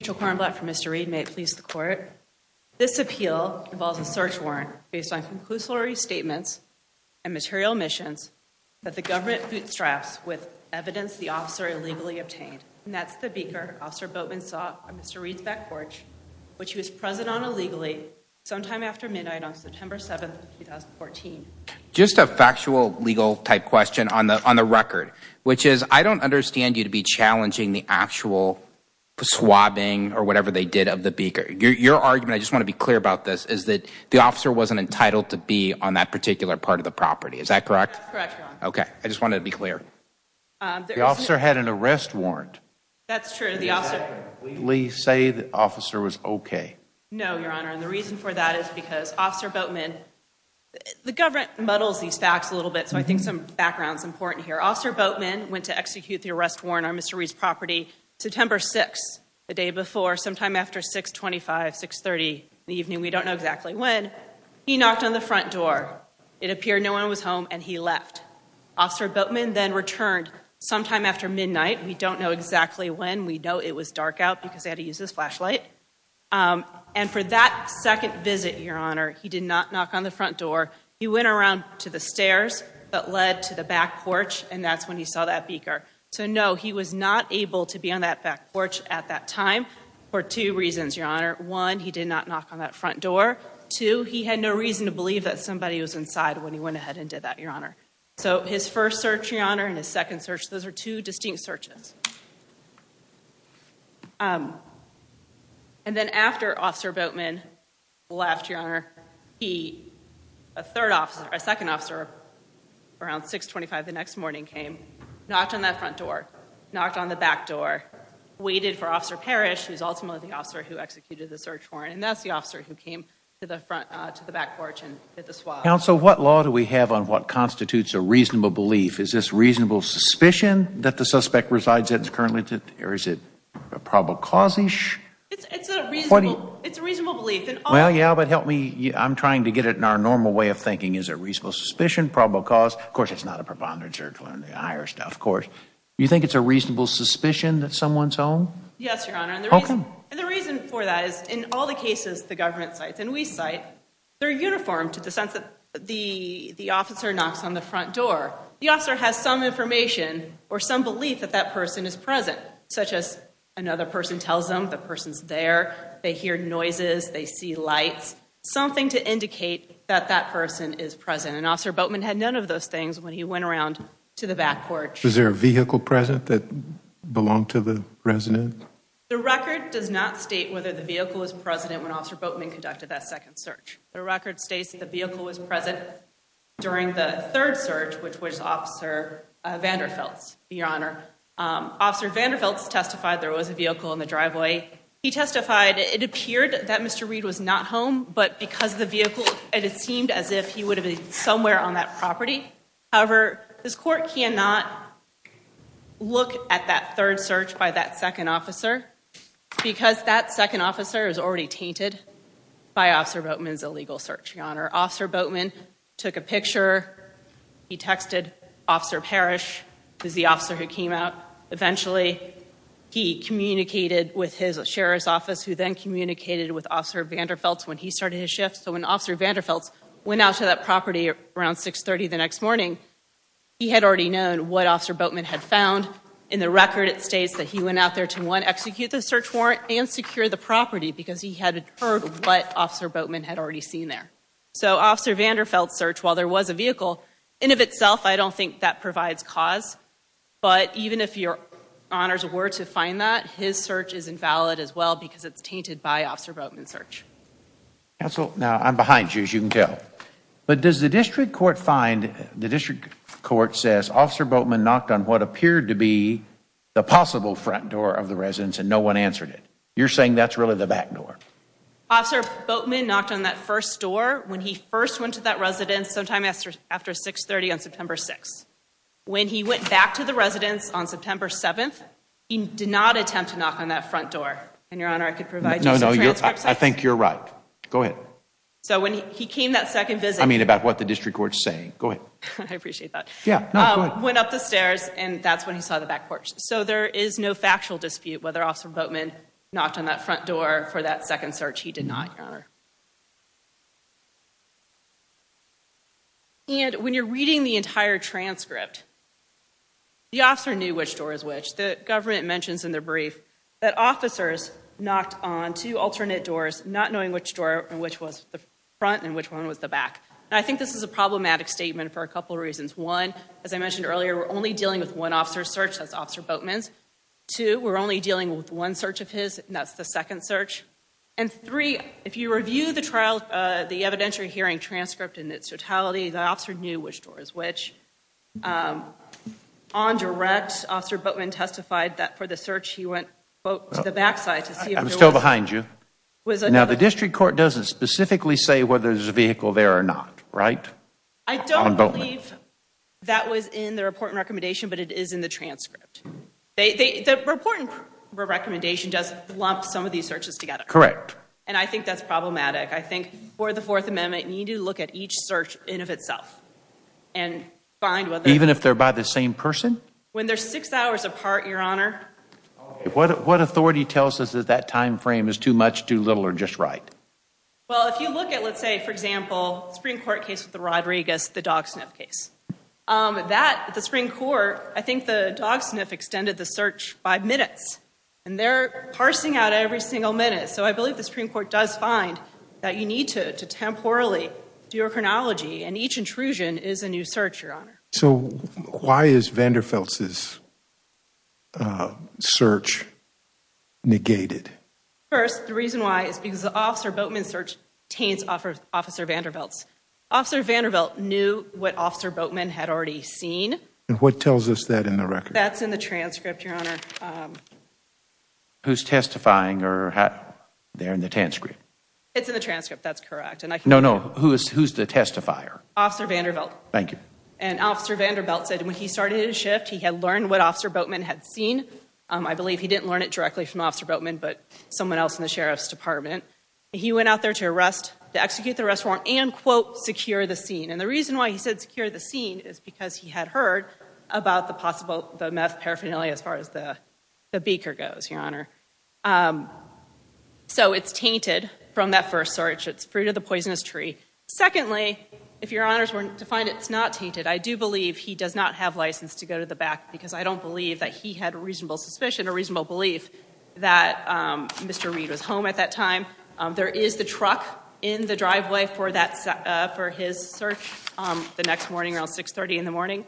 Mitchell Kornblatt for Mr. Reed, may it please the court. This appeal involves a search warrant based on conclusory statements and material omissions that the government bootstraps with evidence the officer illegally obtained, and that's the Beaker Officer Boatman saw on Mr. Reed's back porch, which he was present on illegally sometime after midnight on September 7th, 2014. Just a factual legal type question on the record, which is I don't understand you to be challenging the actual swabbing or whatever they did of the Beaker. Your argument, I just want to be clear about this, is that the officer wasn't entitled to be on that particular part of the property. Is that correct? That's correct, Your Honor. Okay. I just wanted to be clear. The officer had an arrest warrant. That's true. Did the officer legally say the officer was okay? No, Your Honor, and the reason for that is because Officer Boatman, the government muddles these facts a little bit, so I think some background's important here. Officer Boatman went to execute the arrest warrant on Mr. Reed's property September 6th, the day before, sometime after 625, 630 in the evening, we don't know exactly when. He knocked on the front door. It appeared no one was home, and he left. Officer Boatman then returned sometime after midnight. We don't know exactly when. We know it was dark out because they had to use his flashlight, and for that second visit, Your Honor, he did not knock on the front door. He went around to the stairs that led to the back porch, and that's when he saw that beaker. So, no, he was not able to be on that back porch at that time for two reasons, Your Honor. One, he did not knock on that front door. Two, he had no reason to believe that somebody was inside when he went ahead and did that, Your Honor. So, his first search, Your Honor, and his second search, those are two distinct searches. And then after Officer Boatman left, Your Honor, he, a third officer, a second officer, around 625 the next morning, came, knocked on that front door, knocked on the back door, waited for Officer Parrish, who's ultimately the officer who executed the search warrant, and that's the officer who came to the front, to the back porch and hit the swab. Counsel, what law do we have on what constitutes a reasonable belief? Is it currently, or is it probable cause-ish? It's a reasonable belief, and all— Well, yeah, but help me, I'm trying to get it in our normal way of thinking. Is it reasonable suspicion? Probable cause? Of course, it's not a preponderant search warrant, the higher stuff, of course. You think it's a reasonable suspicion that someone's home? Yes, Your Honor. And the reason— How come? And the reason for that is, in all the cases the government cites, and we cite, they're uniform to the sense that the officer knocks on the front door, the officer has some information or some belief that that person is present, such as another person tells them the person's there, they hear noises, they see lights, something to indicate that that person is present. And Officer Boatman had none of those things when he went around to the back porch. Was there a vehicle present that belonged to the resident? The record does not state whether the vehicle was present when Officer Boatman conducted that second search. The record states that the vehicle was present during the third search, which was Officer Vanderfelt's, Your Honor. Officer Vanderfelt's testified there was a vehicle in the driveway. He testified it appeared that Mr. Reed was not home, but because of the vehicle, it seemed as if he would have been somewhere on that property. However, this court cannot look at that third search by that second officer because that second officer is already tainted by Officer Boatman's illegal search, Your Honor. Officer Boatman took a picture, he texted Officer Parrish, who's the officer who came out. Eventually, he communicated with his sheriff's office, who then communicated with Officer Vanderfelt's when he started his shift. So when Officer Vanderfelt's went out to that property around 630 the next morning, he had already known what Officer Boatman had found. In the record, it states that he went out there to, one, execute the search warrant and secure the property because he had heard what Officer Boatman had already seen there. So Officer Vanderfelt's search, while there was a vehicle, in of itself, I don't think that provides cause. But even if Your Honor's were to find that, his search is invalid as well because it's tainted by Officer Boatman's search. Counsel, now I'm behind you, as you can tell. But does the district court find, the district court says Officer Boatman knocked on what appeared to be the possible front door of the residence and no one answered it? You're saying that's really the back door? Officer Boatman knocked on that first door when he first went to that residence sometime after 630 on September 6th. When he went back to the residence on September 7th, he did not attempt to knock on that front door. And Your Honor, I could provide you some transcripts. No, no. I think you're right. Go ahead. So when he came that second visit. I mean about what the district court's saying. Go ahead. I appreciate that. Yeah. No, go ahead. Went up the stairs and that's when he saw the back porch. So there is no factual dispute whether Officer Boatman knocked on that front door for that second search. He did not, Your Honor. And when you're reading the entire transcript, the officer knew which door is which. The government mentions in their brief that officers knocked on two alternate doors, not knowing which door and which was the front and which one was the back. And I think this is a problematic statement for a couple reasons. One, as I mentioned earlier, we're only dealing with one officer's search, that's Officer Boatman's. Two, we're only dealing with one search of his, and that's the second search. And three, if you review the evidentiary hearing transcript in its totality, the officer knew which door is which. On direct, Officer Boatman testified that for the search, he went to the back side to see if there was. I'm still behind you. Now, the district court doesn't specifically say whether there's a vehicle there or not, right? I don't believe that was in the report and recommendation, but it is in the transcript. The report and recommendation does lump some of these searches together. Correct. And I think that's problematic. I think for the Fourth Amendment, you need to look at each search in of itself and find whether... Even if they're by the same person? When they're six hours apart, Your Honor. What authority tells us that that time frame is too much, too little, or just right? Well, if you look at, let's say, for example, the Supreme Court case with the Rodriguez, the dog sniff case. That, the Supreme Court, I think the dog sniff extended the search five minutes, and they're parsing out every single minute. So I believe the Supreme Court does find that you need to temporally do a chronology, and each intrusion is a new search, Your Honor. So why is Vanderfelt's search negated? First, the reason why is because the Officer Boatman search taints Officer Vanderbelt's. Officer Vanderbelt knew what Officer Boatman had already seen. And what tells us that in the record? That's in the transcript, Your Honor. Who's testifying there in the transcript? It's in the transcript. That's correct. No, no. Who's the testifier? Officer Vanderbelt. Thank you. And Officer Vanderbelt said when he started his shift, he had learned what Officer Boatman had seen. I believe he didn't learn it directly from Officer Boatman, but someone else in the Sheriff's Department. He went out there to execute the arrest warrant and, quote, secure the scene. And the reason why he said secure the scene is because he had heard about the meth paraphernalia as far as the beaker goes, Your Honor. So it's tainted from that first search. It's fruit of the poisonous tree. Secondly, if Your Honors were to find it's not tainted, I do believe he does not have license to go to the back, because I don't believe that he had a reasonable suspicion or reasonable belief that Mr. Reed was home at that time. There is the truck in the driveway for his search the next morning, around 6.30 in the morning.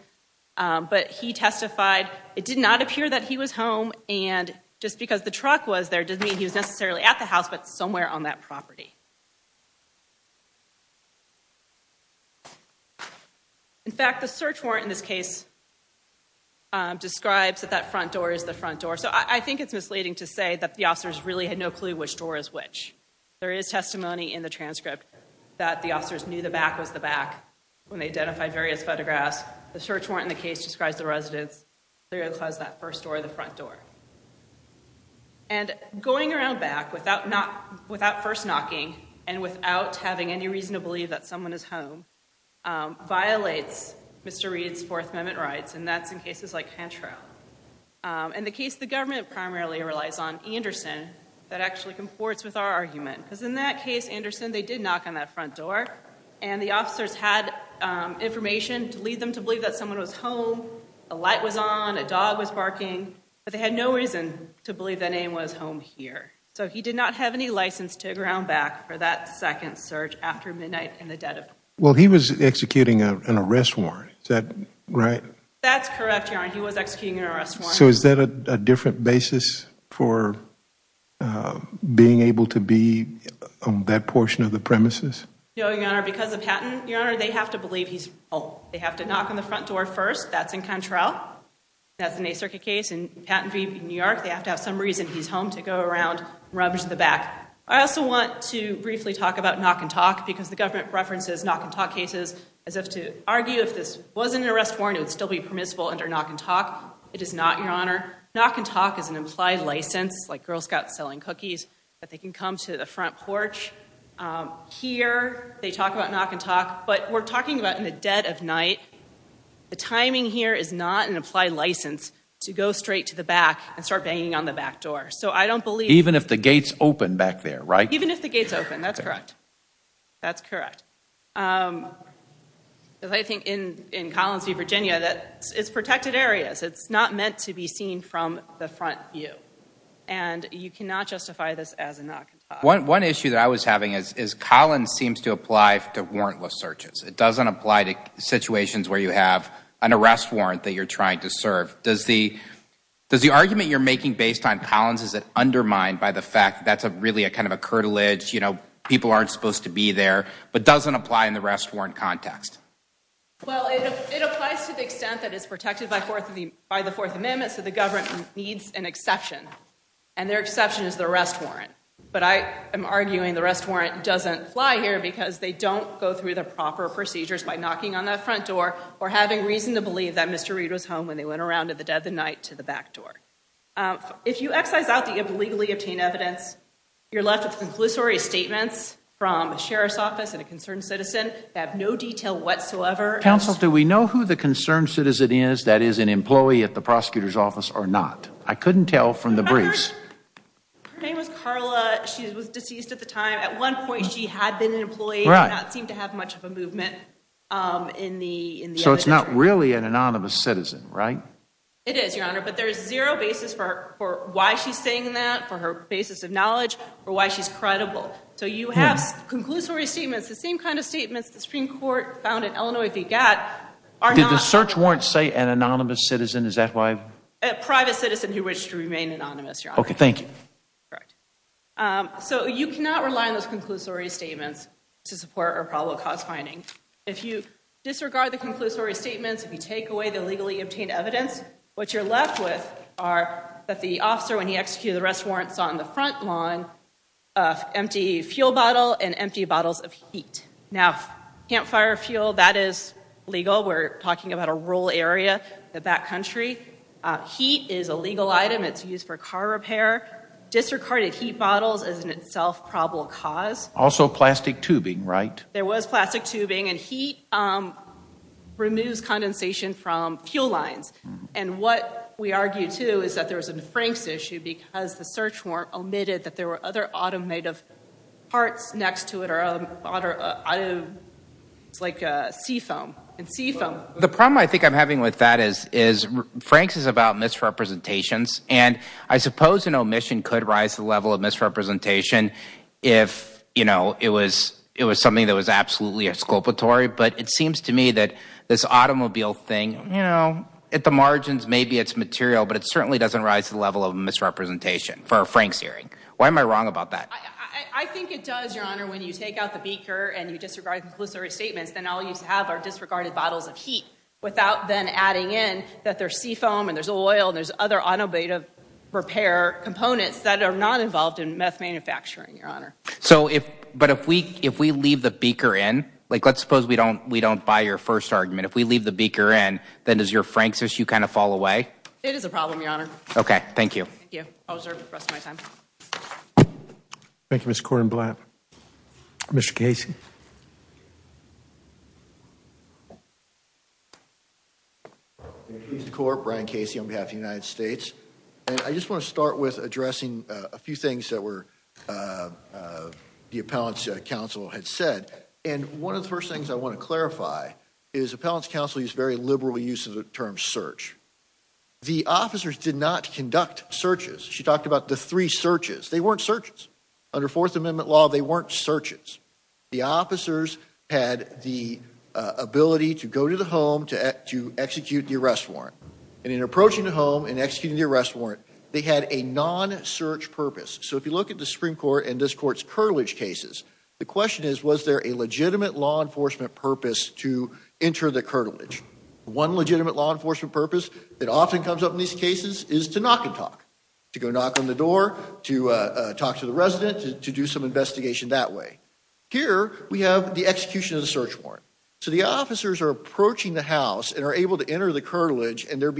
But he testified. It did not appear that he was home. And just because the truck was there doesn't mean he was necessarily at the house, but somewhere on that property. In fact, the search warrant in this case describes that that front door is the front door. So I think it's misleading to say that the officers really had no clue which door is which. There is testimony in the transcript that the officers knew the back was the back when they identified various photographs. The search warrant in the case describes the residence, they're going to close that first door, the front door. And going around back without first knocking and without having any reason to believe that someone is home violates Mr. Reed's Fourth Amendment rights, and that's in cases like Cantrell. In the case the government primarily relies on Anderson, that actually comports with our argument because in that case, Anderson, they did knock on that front door. And the officers had information to lead them to believe that someone was home, a light was on, a dog was barking, but they had no reason to believe that name was home here. So he did not have any license to ground back for that second search after midnight in the dead of night. Well, he was executing an arrest warrant, right? That's correct. He was executing an arrest warrant. So is that a different basis for being able to be on that portion of the premises? No, Your Honor, because of Patton, Your Honor, they have to believe he's home. They have to knock on the front door first. That's in Cantrell. That's in a circuit case in Patton v. New York, they have to have some reason he's home to go around, rub to the back. I also want to briefly talk about knock and talk because the government references knock and talk cases as if to argue if this was an arrest warrant, it would still be permissible under knock and talk. It is not, Your Honor. Knock and talk is an implied license, like Girl Scouts selling cookies, that they can come to the front porch. Here they talk about knock and talk, but we're talking about in the dead of night. The timing here is not an implied license to go straight to the back and start banging on the back door. So I don't believe- Even if the gates open back there, right? Even if the gates open, that's correct. That's correct. I think in Collins v. Virginia, it's protected areas. It's not meant to be seen from the front view. And you cannot justify this as a knock and talk. One issue that I was having is Collins seems to apply to warrantless searches. It doesn't apply to situations where you have an arrest warrant that you're trying to serve. Does the argument you're making based on Collins, is it undermined by the fact that that's really kind of a curtilage, people aren't supposed to be there, but doesn't apply in the arrest warrant context? Well, it applies to the extent that it's protected by the Fourth Amendment, so the government needs an exception. And their exception is the arrest warrant. But I am arguing the arrest warrant doesn't fly here because they don't go through the proper procedures by knocking on that front door or having reason to believe that Mr. Reid was home when they went around in the dead of night to the back door. If you excise out the illegally obtained evidence, you're left with conclusory statements from a sheriff's office and a concerned citizen that have no detail whatsoever. Counsel, do we know who the concerned citizen is that is an employee at the prosecutor's office or not? I couldn't tell from the briefs. Her name was Carla. She was deceased at the time. At one point, she had been an employee, did not seem to have much of a movement in the So it's not really an anonymous citizen, right? It is, Your Honor. But there is zero basis for why she's saying that, for her basis of knowledge, for why she's credible. So you have conclusory statements, the same kind of statements the Supreme Court found in Illinois v. Gatt, are not- Did the search warrant say an anonymous citizen? Is that why- A private citizen who wished to remain anonymous, Your Honor. Okay, thank you. Correct. So you cannot rely on those conclusory statements to support a probable cause finding. If you disregard the conclusory statements, if you take away the illegally obtained evidence, what you're left with are that the officer, when he executed the arrest warrant, saw on the front lawn an empty fuel bottle and empty bottles of heat. Now, campfire fuel, that is legal. We're talking about a rural area, the back country. Heat is a legal item. It's used for car repair. Disregarded heat bottles is in itself probable cause. Also plastic tubing, right? There was plastic tubing, and heat removes condensation from fuel lines. And what we argue, too, is that there was a Franks issue because the search warrant omitted that there were other automotive parts next to it, like seafoam, and seafoam- The problem I think I'm having with that is Franks is about misrepresentations. And I suppose an omission could rise to the level of misrepresentation if it was something that was absolutely exculpatory, but it seems to me that this automobile thing, you know, at the margins, maybe it's material, but it certainly doesn't rise to the level of misrepresentation for a Franks hearing. Why am I wrong about that? I think it does, Your Honor, when you take out the beaker and you disregard the conclusory statements, then all you have are disregarded bottles of heat without then adding in that there's seafoam and there's oil and there's other automotive repair components that are not involved in meth manufacturing, Your Honor. So if, but if we, if we leave the beaker in, like let's suppose we don't, we don't buy your first argument. If we leave the beaker in, then does your Franks issue kind of fall away? It is a problem, Your Honor. Okay. Thank you. Thank you. I'll reserve the rest of my time. Thank you, Mr. Korenblatt. Mr. Casey. Mr. Corp, Brian Casey on behalf of the United States, and I just want to start with addressing a few things that were, uh, uh, the appellant's counsel had said, and one of the first things I want to clarify is appellant's counsel used very liberal use of the term search. The officers did not conduct searches. She talked about the three searches. They weren't searches under fourth amendment law. They weren't searches. The officers had the ability to go to the home to execute the arrest warrant and in So if you look at the Supreme court and this court's curtilage cases, the question is, was there a legitimate law enforcement purpose to enter the curtilage? One legitimate law enforcement purpose that often comes up in these cases is to knock and talk, to go knock on the door, to talk to the resident, to do some investigation that way. Here we have the execution of the search warrant. So the officers are approaching the house and are able to enter the curtilage and there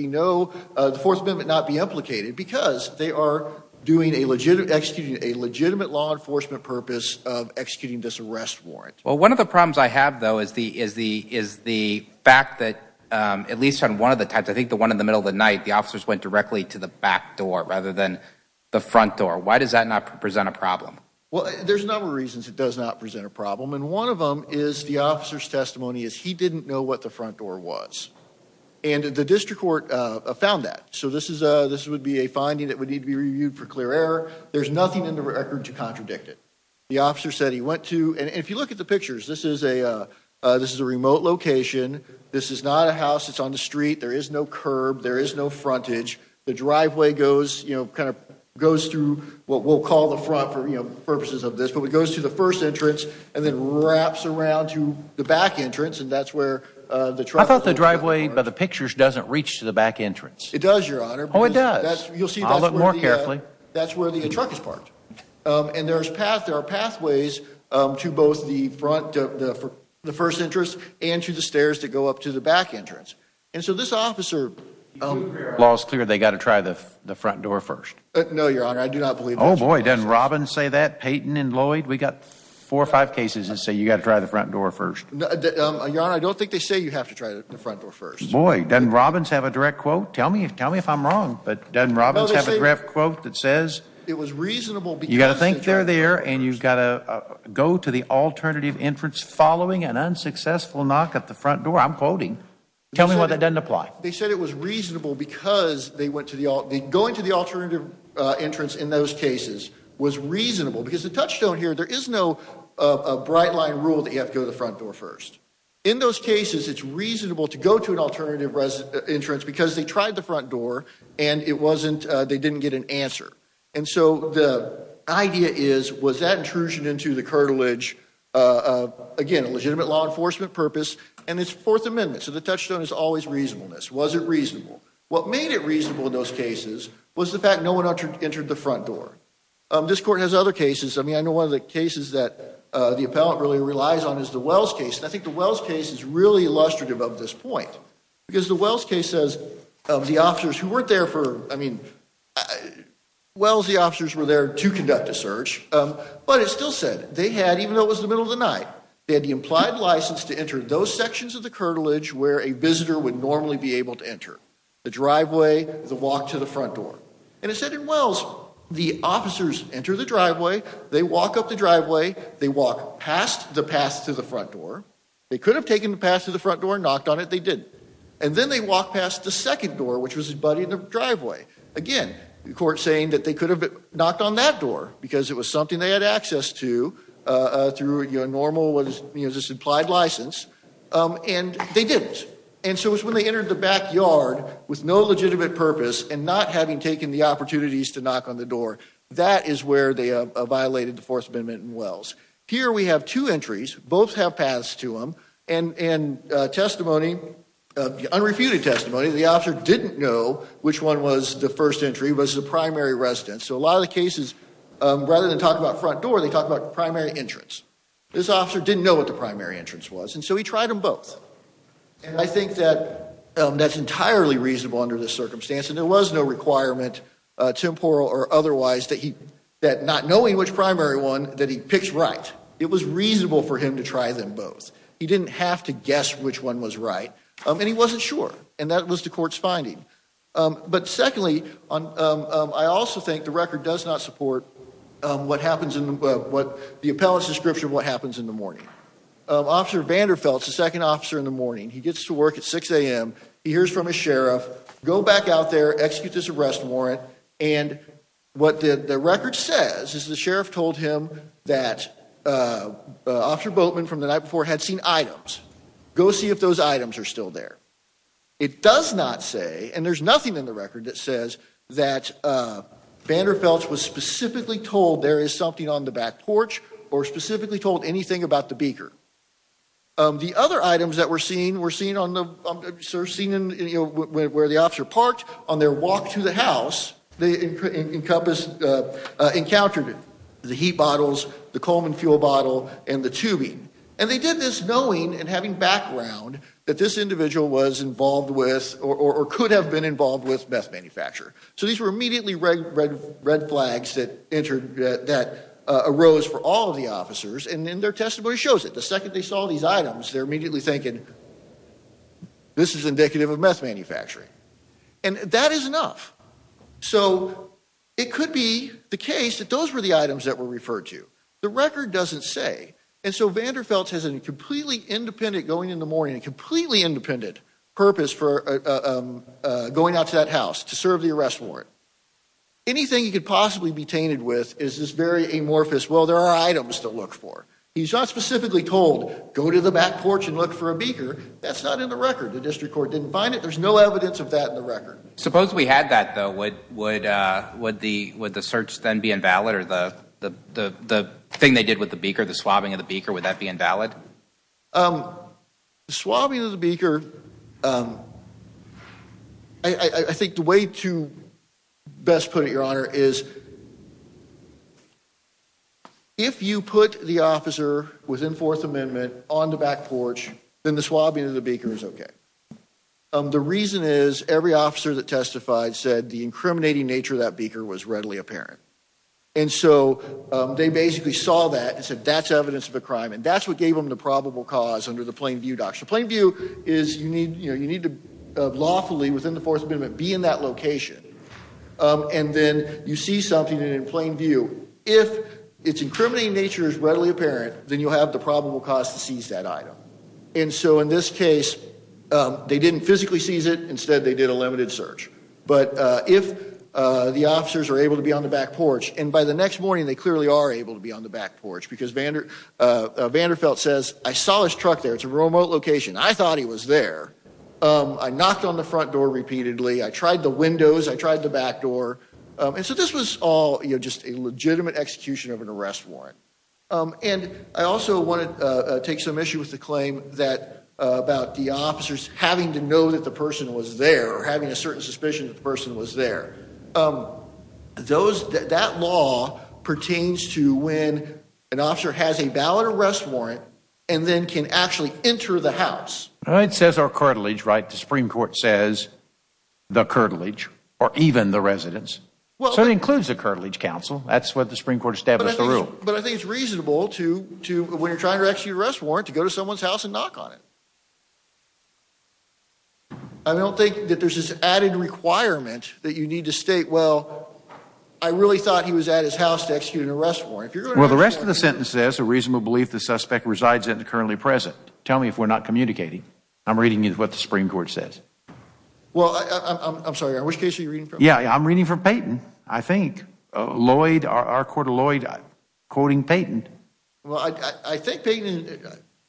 they are doing a legitimate, executing a legitimate law enforcement purpose of executing this arrest warrant. Well, one of the problems I have though, is the, is the, is the fact that, um, at least on one of the types, I think the one in the middle of the night, the officers went directly to the back door rather than the front door. Why does that not present a problem? Well, there's a number of reasons it does not present a problem. And one of them is the officer's testimony is he didn't know what the front door was and the district court, uh, found that. So this is a, this would be a finding that would need to be reviewed for clear error. There's nothing in the record to contradict it. The officer said he went to, and if you look at the pictures, this is a, uh, uh, this is a remote location. This is not a house. It's on the street. There is no curb. There is no frontage. The driveway goes, you know, kind of goes through what we'll call the front for purposes of this. But it goes to the first entrance and then wraps around to the back entrance and that's where the truck. I thought the driveway by the pictures doesn't reach to the back entrance. It does, Your Honor. Oh, it does. You'll see a little more carefully. That's where the truck is parked. And there's paths, there are pathways to both the front, the first entrance and to the stairs to go up to the back entrance. And so this officer, um, law is clear. They got to try the front door first. No, Your Honor. I do not believe. Oh boy. Doesn't Robbins say that Peyton and Lloyd, we got four or five cases that say you got to try the front door first. Your Honor, I don't think they say you have to try the front door first. Boy, doesn't Robbins have a direct quote. Tell me, tell me if I'm wrong, but doesn't Robbins have a direct quote that says it was reasonable. You got to think they're there and you've got to go to the alternative entrance following an unsuccessful knock at the front door. I'm quoting. Tell me why that doesn't apply. They said it was reasonable because they went to the, going to the alternative entrance in those cases was reasonable because the touchstone here, there is no, uh, a bright line rule that you have to go to the front door first. In those cases, it's reasonable to go to an alternative entrance because they tried the front door and it wasn't, uh, they didn't get an answer. And so the idea is, was that intrusion into the curtilage, uh, again, a legitimate law enforcement purpose and it's fourth amendment. So the touchstone is always reasonableness. Was it reasonable? What made it reasonable in those cases was the fact no one entered the front door. This court has other cases. I mean, I know one of the cases that, uh, the appellant really relies on is the Wells case. And I think the Wells case is really illustrative of this point because the Wells case says of the officers who weren't there for, I mean, uh, Wells, the officers were there to conduct a search. Um, but it still said they had, even though it was the middle of the night, they had the implied license to enter those sections of the curtilage where a visitor would normally be able to enter the driveway, the walk to the front door. And it said in Wells, the officers enter the driveway, they walk up the driveway, they walk past the pass to the front door. They could have taken the pass to the front door and knocked on it. They didn't. And then they walked past the second door, which was his buddy in the driveway. Again, the court saying that they could have knocked on that door because it was something they had access to, uh, through your normal was, you know, just implied license. Um, and they didn't. And so it was when they entered the backyard with no legitimate purpose and not having taken the opportunities to knock on the door, that is where they violated the fourth amendment in Wells. Here, we have two entries. Both have paths to them and, and, uh, testimony of unrefuted testimony. The officer didn't know which one was the first entry was the primary residence. So a lot of the cases, um, rather than talk about front door, they talk about primary entrance. This officer didn't know what the primary entrance was. And so he tried them both. And I think that, um, that's entirely reasonable under this circumstance. And there was no requirement, uh, temporal or otherwise that he, that not knowing which pick's right. It was reasonable for him to try them both. He didn't have to guess which one was right. Um, and he wasn't sure. And that was the court's finding. Um, but secondly, on, um, um, I also think the record does not support, um, what happens in the book, what the appellate's description of what happens in the morning. Um, Officer Vanderfelt's the second officer in the morning. He gets to work at 6 a.m. He hears from a sheriff, go back out there, execute this arrest warrant. And what the, the record says is the sheriff told him that, uh, uh, Officer Boatman from the night before had seen items. Go see if those items are still there. It does not say, and there's nothing in the record that says that, uh, Vanderfelt's was specifically told there is something on the back porch or specifically told anything about the beaker. Um, the other items that were seen were seen on the, um, seen in, you know, where, where the officer parked on their walk to the house, they encompass, uh, uh, encountered it. The heat bottles, the Coleman fuel bottle, and the tubing. And they did this knowing and having background that this individual was involved with or, or could have been involved with meth manufacture. So these were immediately red, red, red flags that entered, uh, that, uh, arose for all of the officers. And in their testimony shows it. The second they saw these items, they're immediately thinking, this is indicative of meth manufacturing. And that is enough. So it could be the case that those were the items that were referred to. The record doesn't say. And so Vanderfelt's has a completely independent going in the morning, a completely independent purpose for, uh, um, uh, going out to that house to serve the arrest warrant. Anything you could possibly be tainted with is this very amorphous, well, there are items to look for. He's not specifically told go to the back porch and look for a beaker. That's not in the record. The district court didn't find it. There's no evidence of that in the record. Suppose we had that though, would, would, uh, would the, would the search then be invalid or the, the, the, the thing they did with the beaker, the swabbing of the beaker, would that be invalid? Um, the swabbing of the beaker, um, I think the way to best put it, your honor is if you put the officer within fourth amendment on the back porch, then the swabbing of the beaker is okay. Um, the reason is every officer that testified said the incriminating nature of that beaker was readily apparent. And so, um, they basically saw that and said, that's evidence of a crime. And that's what gave them the probable cause under the plain view doctrine. Plain view is you need, you know, you need to lawfully within the fourth amendment, be in that location. Um, and then you see something and in plain view, if it's incriminating nature is readily apparent, then you'll have the probable cause to seize that item. And so in this case, um, they didn't physically seize it. Instead, they did a limited search. But, uh, if, uh, the officers are able to be on the back porch and by the next morning, they clearly are able to be on the back porch because Vander, uh, Vanderfelt says, I saw his truck there. It's a remote location. I thought he was there. Um, I knocked on the front door repeatedly. I tried the windows, I tried the back door. Um, and so this was all, you know, just a legitimate execution of an arrest warrant. Um, and I also want to, uh, take some issue with the claim that, uh, about the officers having to know that the person was there or having a certain suspicion that the person was there. Um, those, that law pertains to when an officer has a valid arrest warrant and then can actually enter the house. It says our cartilage, right? The Supreme court says the cartilage or even the residents. So it includes the cartilage council. That's what the Supreme court established the rule. But I think it's reasonable to, to, when you're trying to execute arrest warrant, to go to someone's house and knock on it. I don't think that there's this added requirement that you need to state, well, I really thought he was at his house to execute an arrest warrant. Well, the rest of the sentence says a reasonable belief. The suspect resides in the currently present. Tell me if we're not communicating. I'm reading you what the Supreme court says. Well, I'm sorry, which case are you reading from? Yeah. I'm reading from Peyton. I think Lloyd, our court of Lloyd, quoting Peyton. Well, I, I think Peyton,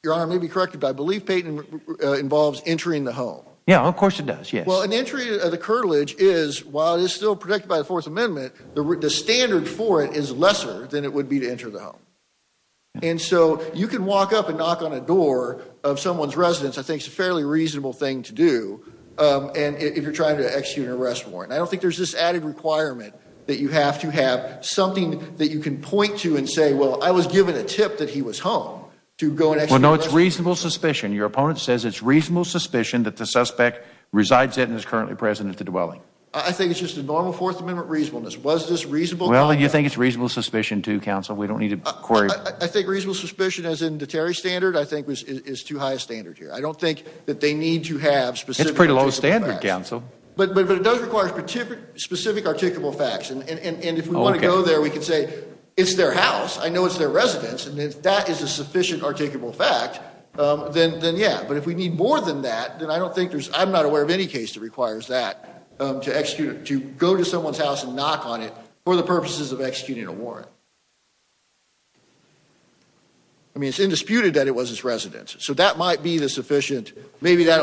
your honor may be corrected, but I believe Peyton involves entering the home. Yeah, of course it does. Yes. Well, an entry of the cartilage is while it is still protected by the fourth amendment, the standard for it is lesser than it would be to enter the home. And so you can walk up and knock on a door of someone's residence, I think it's a fairly reasonable thing to do. Um, and if you're trying to execute an arrest warrant, I don't think there's this added requirement that you have to have something that you can point to and say, well, I was given a tip that he was home to go and actually know it's reasonable suspicion. Your opponent says it's reasonable suspicion that the suspect resides in and is currently present at the dwelling. I think it's just a normal fourth amendment reasonableness. Was this reasonable? Well, you think it's reasonable suspicion to counsel. We don't need to query. I think reasonable suspicion as in the Terry standard, I think was, is too high a standard here. I don't think that they need to have specific pretty low standard council, but, but it does require specific, specific, articulable facts. And if we want to go there, we can say it's their house. I know it's their residence. And if that is a sufficient articulable fact, um, then, then yeah, but if we need more than that, then I don't think there's, I'm not aware of any case that requires that, um, to execute it, to go to someone's house and knock on it for the purposes of executing a warrant. I mean, it's indisputed that it was his residence, so that might be the sufficient, maybe that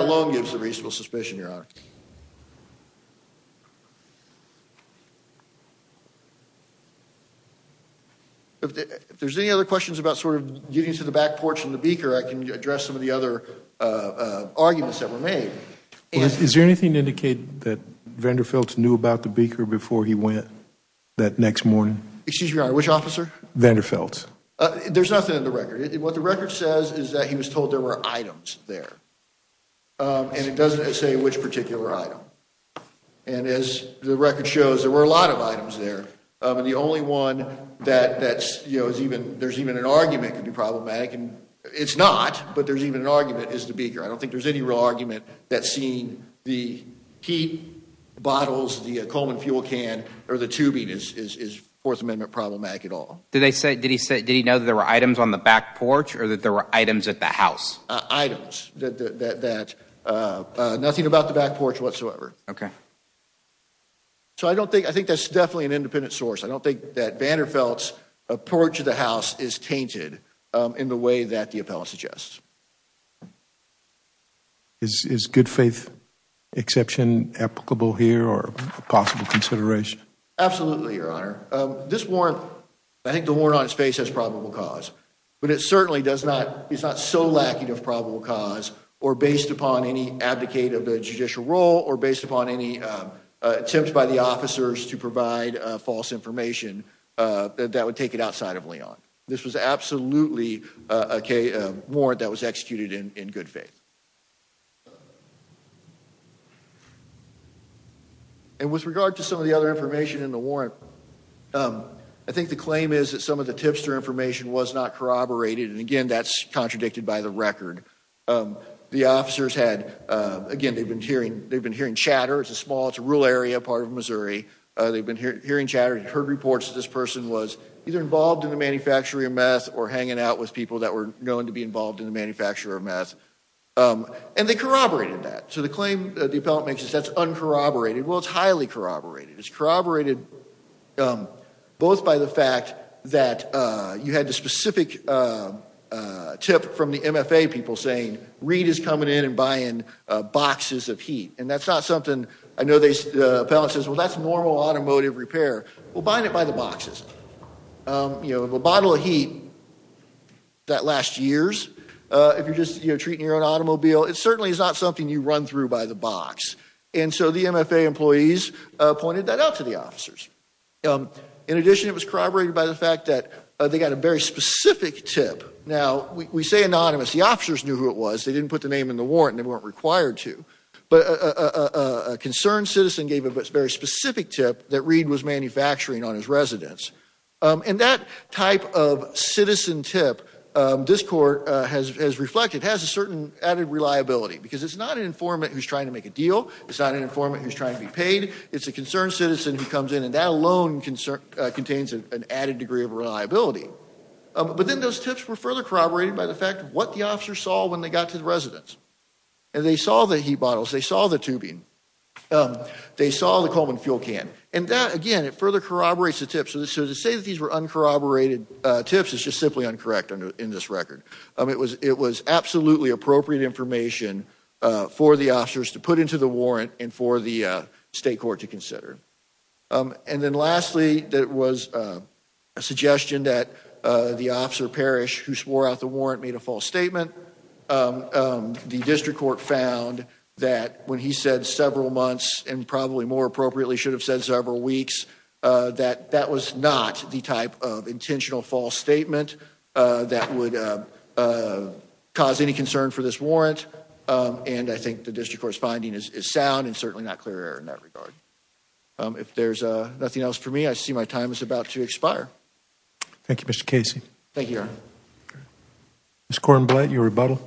If there's any other questions about sort of getting to the back porch and the beaker, I can address some of the other, uh, uh, arguments that were made. Is there anything to indicate that Vander Feltz knew about the beaker before he went that next morning? Excuse me, Your Honor. Which officer? Vander Feltz. Uh, there's nothing in the record. What the record says is that he was told there were items there, um, and it doesn't say which particular item, and as the record shows, there were a lot of items there, um, and the only one that, that's, you know, is even, there's even an argument could be problematic, and it's not, but there's even an argument is the beaker. I don't think there's any real argument that seeing the heat bottles, the, uh, Coleman fuel can or the tubing is, is, is Fourth Amendment problematic at all. Did they say, did he say, did he know that there were items on the back porch or that there were items at the house? Uh, items that, that, that, uh, uh, nothing about the back porch whatsoever. Okay. So I don't think, I think that's definitely an independent source. I don't think that Vander Feltz approach to the house is tainted, um, in the way that the appellate suggests. Is good faith exception applicable here or a possible consideration? Absolutely. Your Honor. Um, this warrant, I think the warrant on his face has probable cause, but it certainly does not. He's not so lacking of probable cause or based upon any abdicate of the judicial role or based upon any, um, uh, attempts by the officers to provide a false information, uh, that would take it outside of Leon. This was absolutely a K a warrant that was executed in, in good faith. And with regard to some of the other information in the warrant, um, I think the claim is that some of the tipster information was not corroborated. And again, that's contradicted by the record. Um, the officers had, uh, again, they've been hearing, they've been hearing chatter. It's a small, it's a rural area, part of Missouri. Uh, they've been hearing, hearing chatter. Heard reports that this person was either involved in the manufacturing of meth or hanging out with people that were known to be involved in the manufacture of meth. Um, and they corroborated that. So the claim the appellate makes is that's uncorroborated. Well, it's highly corroborated. It's corroborated, um, both by the fact that, uh, you had the specific, uh, uh, tip from the MFA people saying, Reed is coming in and buying, uh, boxes of heat. And that's not something I know they, uh, appellate says, well, that's normal automotive repair. We'll buy it by the boxes. Um, you know, if a bottle of heat that lasts years, uh, if you're just, you know, treating your own automobile, it certainly is not something you run through by the box. And so the MFA employees, uh, pointed that out to the officers. Um, in addition, it was corroborated by the fact that, uh, they got a very specific tip. Now we say anonymous, the officers knew who it was. They didn't put the name in the warrant and they weren't required to, but a, a, a, a concerned citizen gave a very specific tip that Reed was manufacturing on his residence. Um, and that type of citizen tip, um, this court, uh, has, has reflected, has a certain reliability because it's not an informant who's trying to make a deal. It's not an informant who's trying to be paid. It's a concerned citizen who comes in and that alone concern, uh, contains an added degree of reliability. But then those tips were further corroborated by the fact of what the officer saw when they got to the residence. And they saw the heat bottles, they saw the tubing. Um, they saw the Coleman fuel can. And that, again, it further corroborates the tips of this. So to say that these were uncorroborated, uh, tips is just simply uncorrect in this record. Um, it was, it was absolutely appropriate information, uh, for the officers to put into the warrant and for the, uh, state court to consider. Um, and then lastly, that was, uh, a suggestion that, uh, the officer parish who swore out the warrant made a false statement. Um, um, the district court found that when he said several months and probably more appropriately should have said several weeks, uh, that that was not the type of intentional false statement, uh, that would, uh, uh, cause any concern for this warrant. Um, and I think the district court's finding is, is sound and certainly not clear in that regard. Um, if there's, uh, nothing else for me, I see my time is about to expire. Thank you, Mr. Casey. Thank you, Your Honor. Ms. Cornblatt, your rebuttal.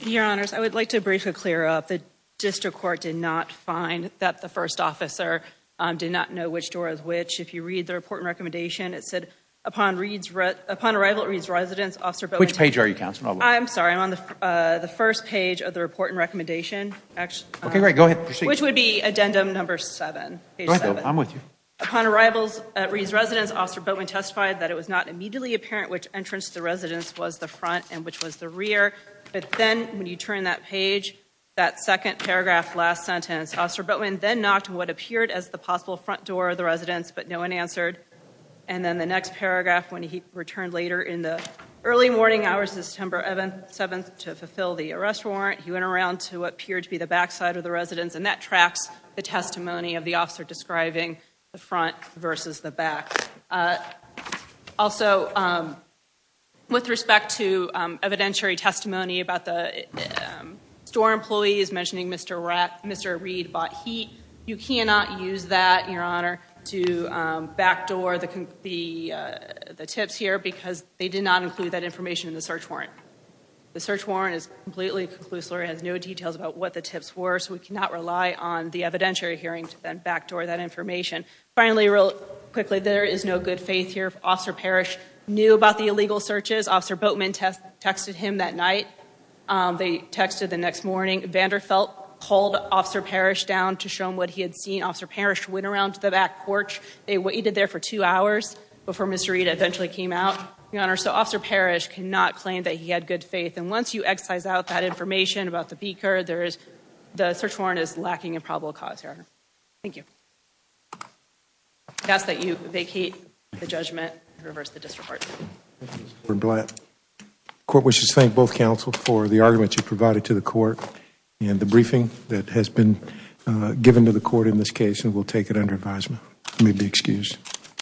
Your Honors, I would like to briefly clear up the district court did not find that the first officer, um, did not know which door is which. If you read the report and recommendation, it said upon reads, upon arrival at Reed's residence, Officer Bowen. Which page are you, Counselor? I'm sorry. I'm on the, uh, the first page of the report and recommendation, actually. Okay, great. Go ahead. Which would be addendum number seven, page seven. I'm with you. Upon arrivals at Reed's residence, Officer Bowen testified that it was not immediately apparent which entrance to the residence was the front and which was the rear. But then when you turn that page, that second paragraph, last sentence, Officer Bowen then knocked on what appeared as the possible front door of the residence, but no one answered. And then the next paragraph, when he returned later in the early morning hours of September 11th, 7th, to fulfill the arrest warrant, he went around to what appeared to be the back side of the residence. And that tracks the testimony of the officer describing the front versus the back. Also, um, with respect to, um, evidentiary testimony about the, um, store employees mentioning Mr. Rack, Mr. Reed bought heat. You cannot use that, Your Honor, to, um, backdoor the, the, uh, the tips here because they did not include that information in the search warrant. The search warrant is completely conclusive. It has no details about what the tips were. So we cannot rely on the evidentiary hearing to then backdoor that information. Finally, real quickly, there is no good faith here. Officer Parrish knew about the illegal searches. Officer Boatman texted him that night. They texted the next morning. Vander Felt pulled Officer Parrish down to show him what he had seen. Officer Parrish went around to the back porch. They waited there for two hours before Mr. Reed eventually came out. Your Honor, so Officer Parrish cannot claim that he had good faith. And once you excise out that information about the beaker, there is, the search warrant is lacking a probable cause here. Thank you. I ask that you vacate the judgment and reverse the district court. Court wishes to thank both counsel for the argument you provided to the court and the briefing that has been given to the court in this case. And we'll take it under advisement. I may be excused.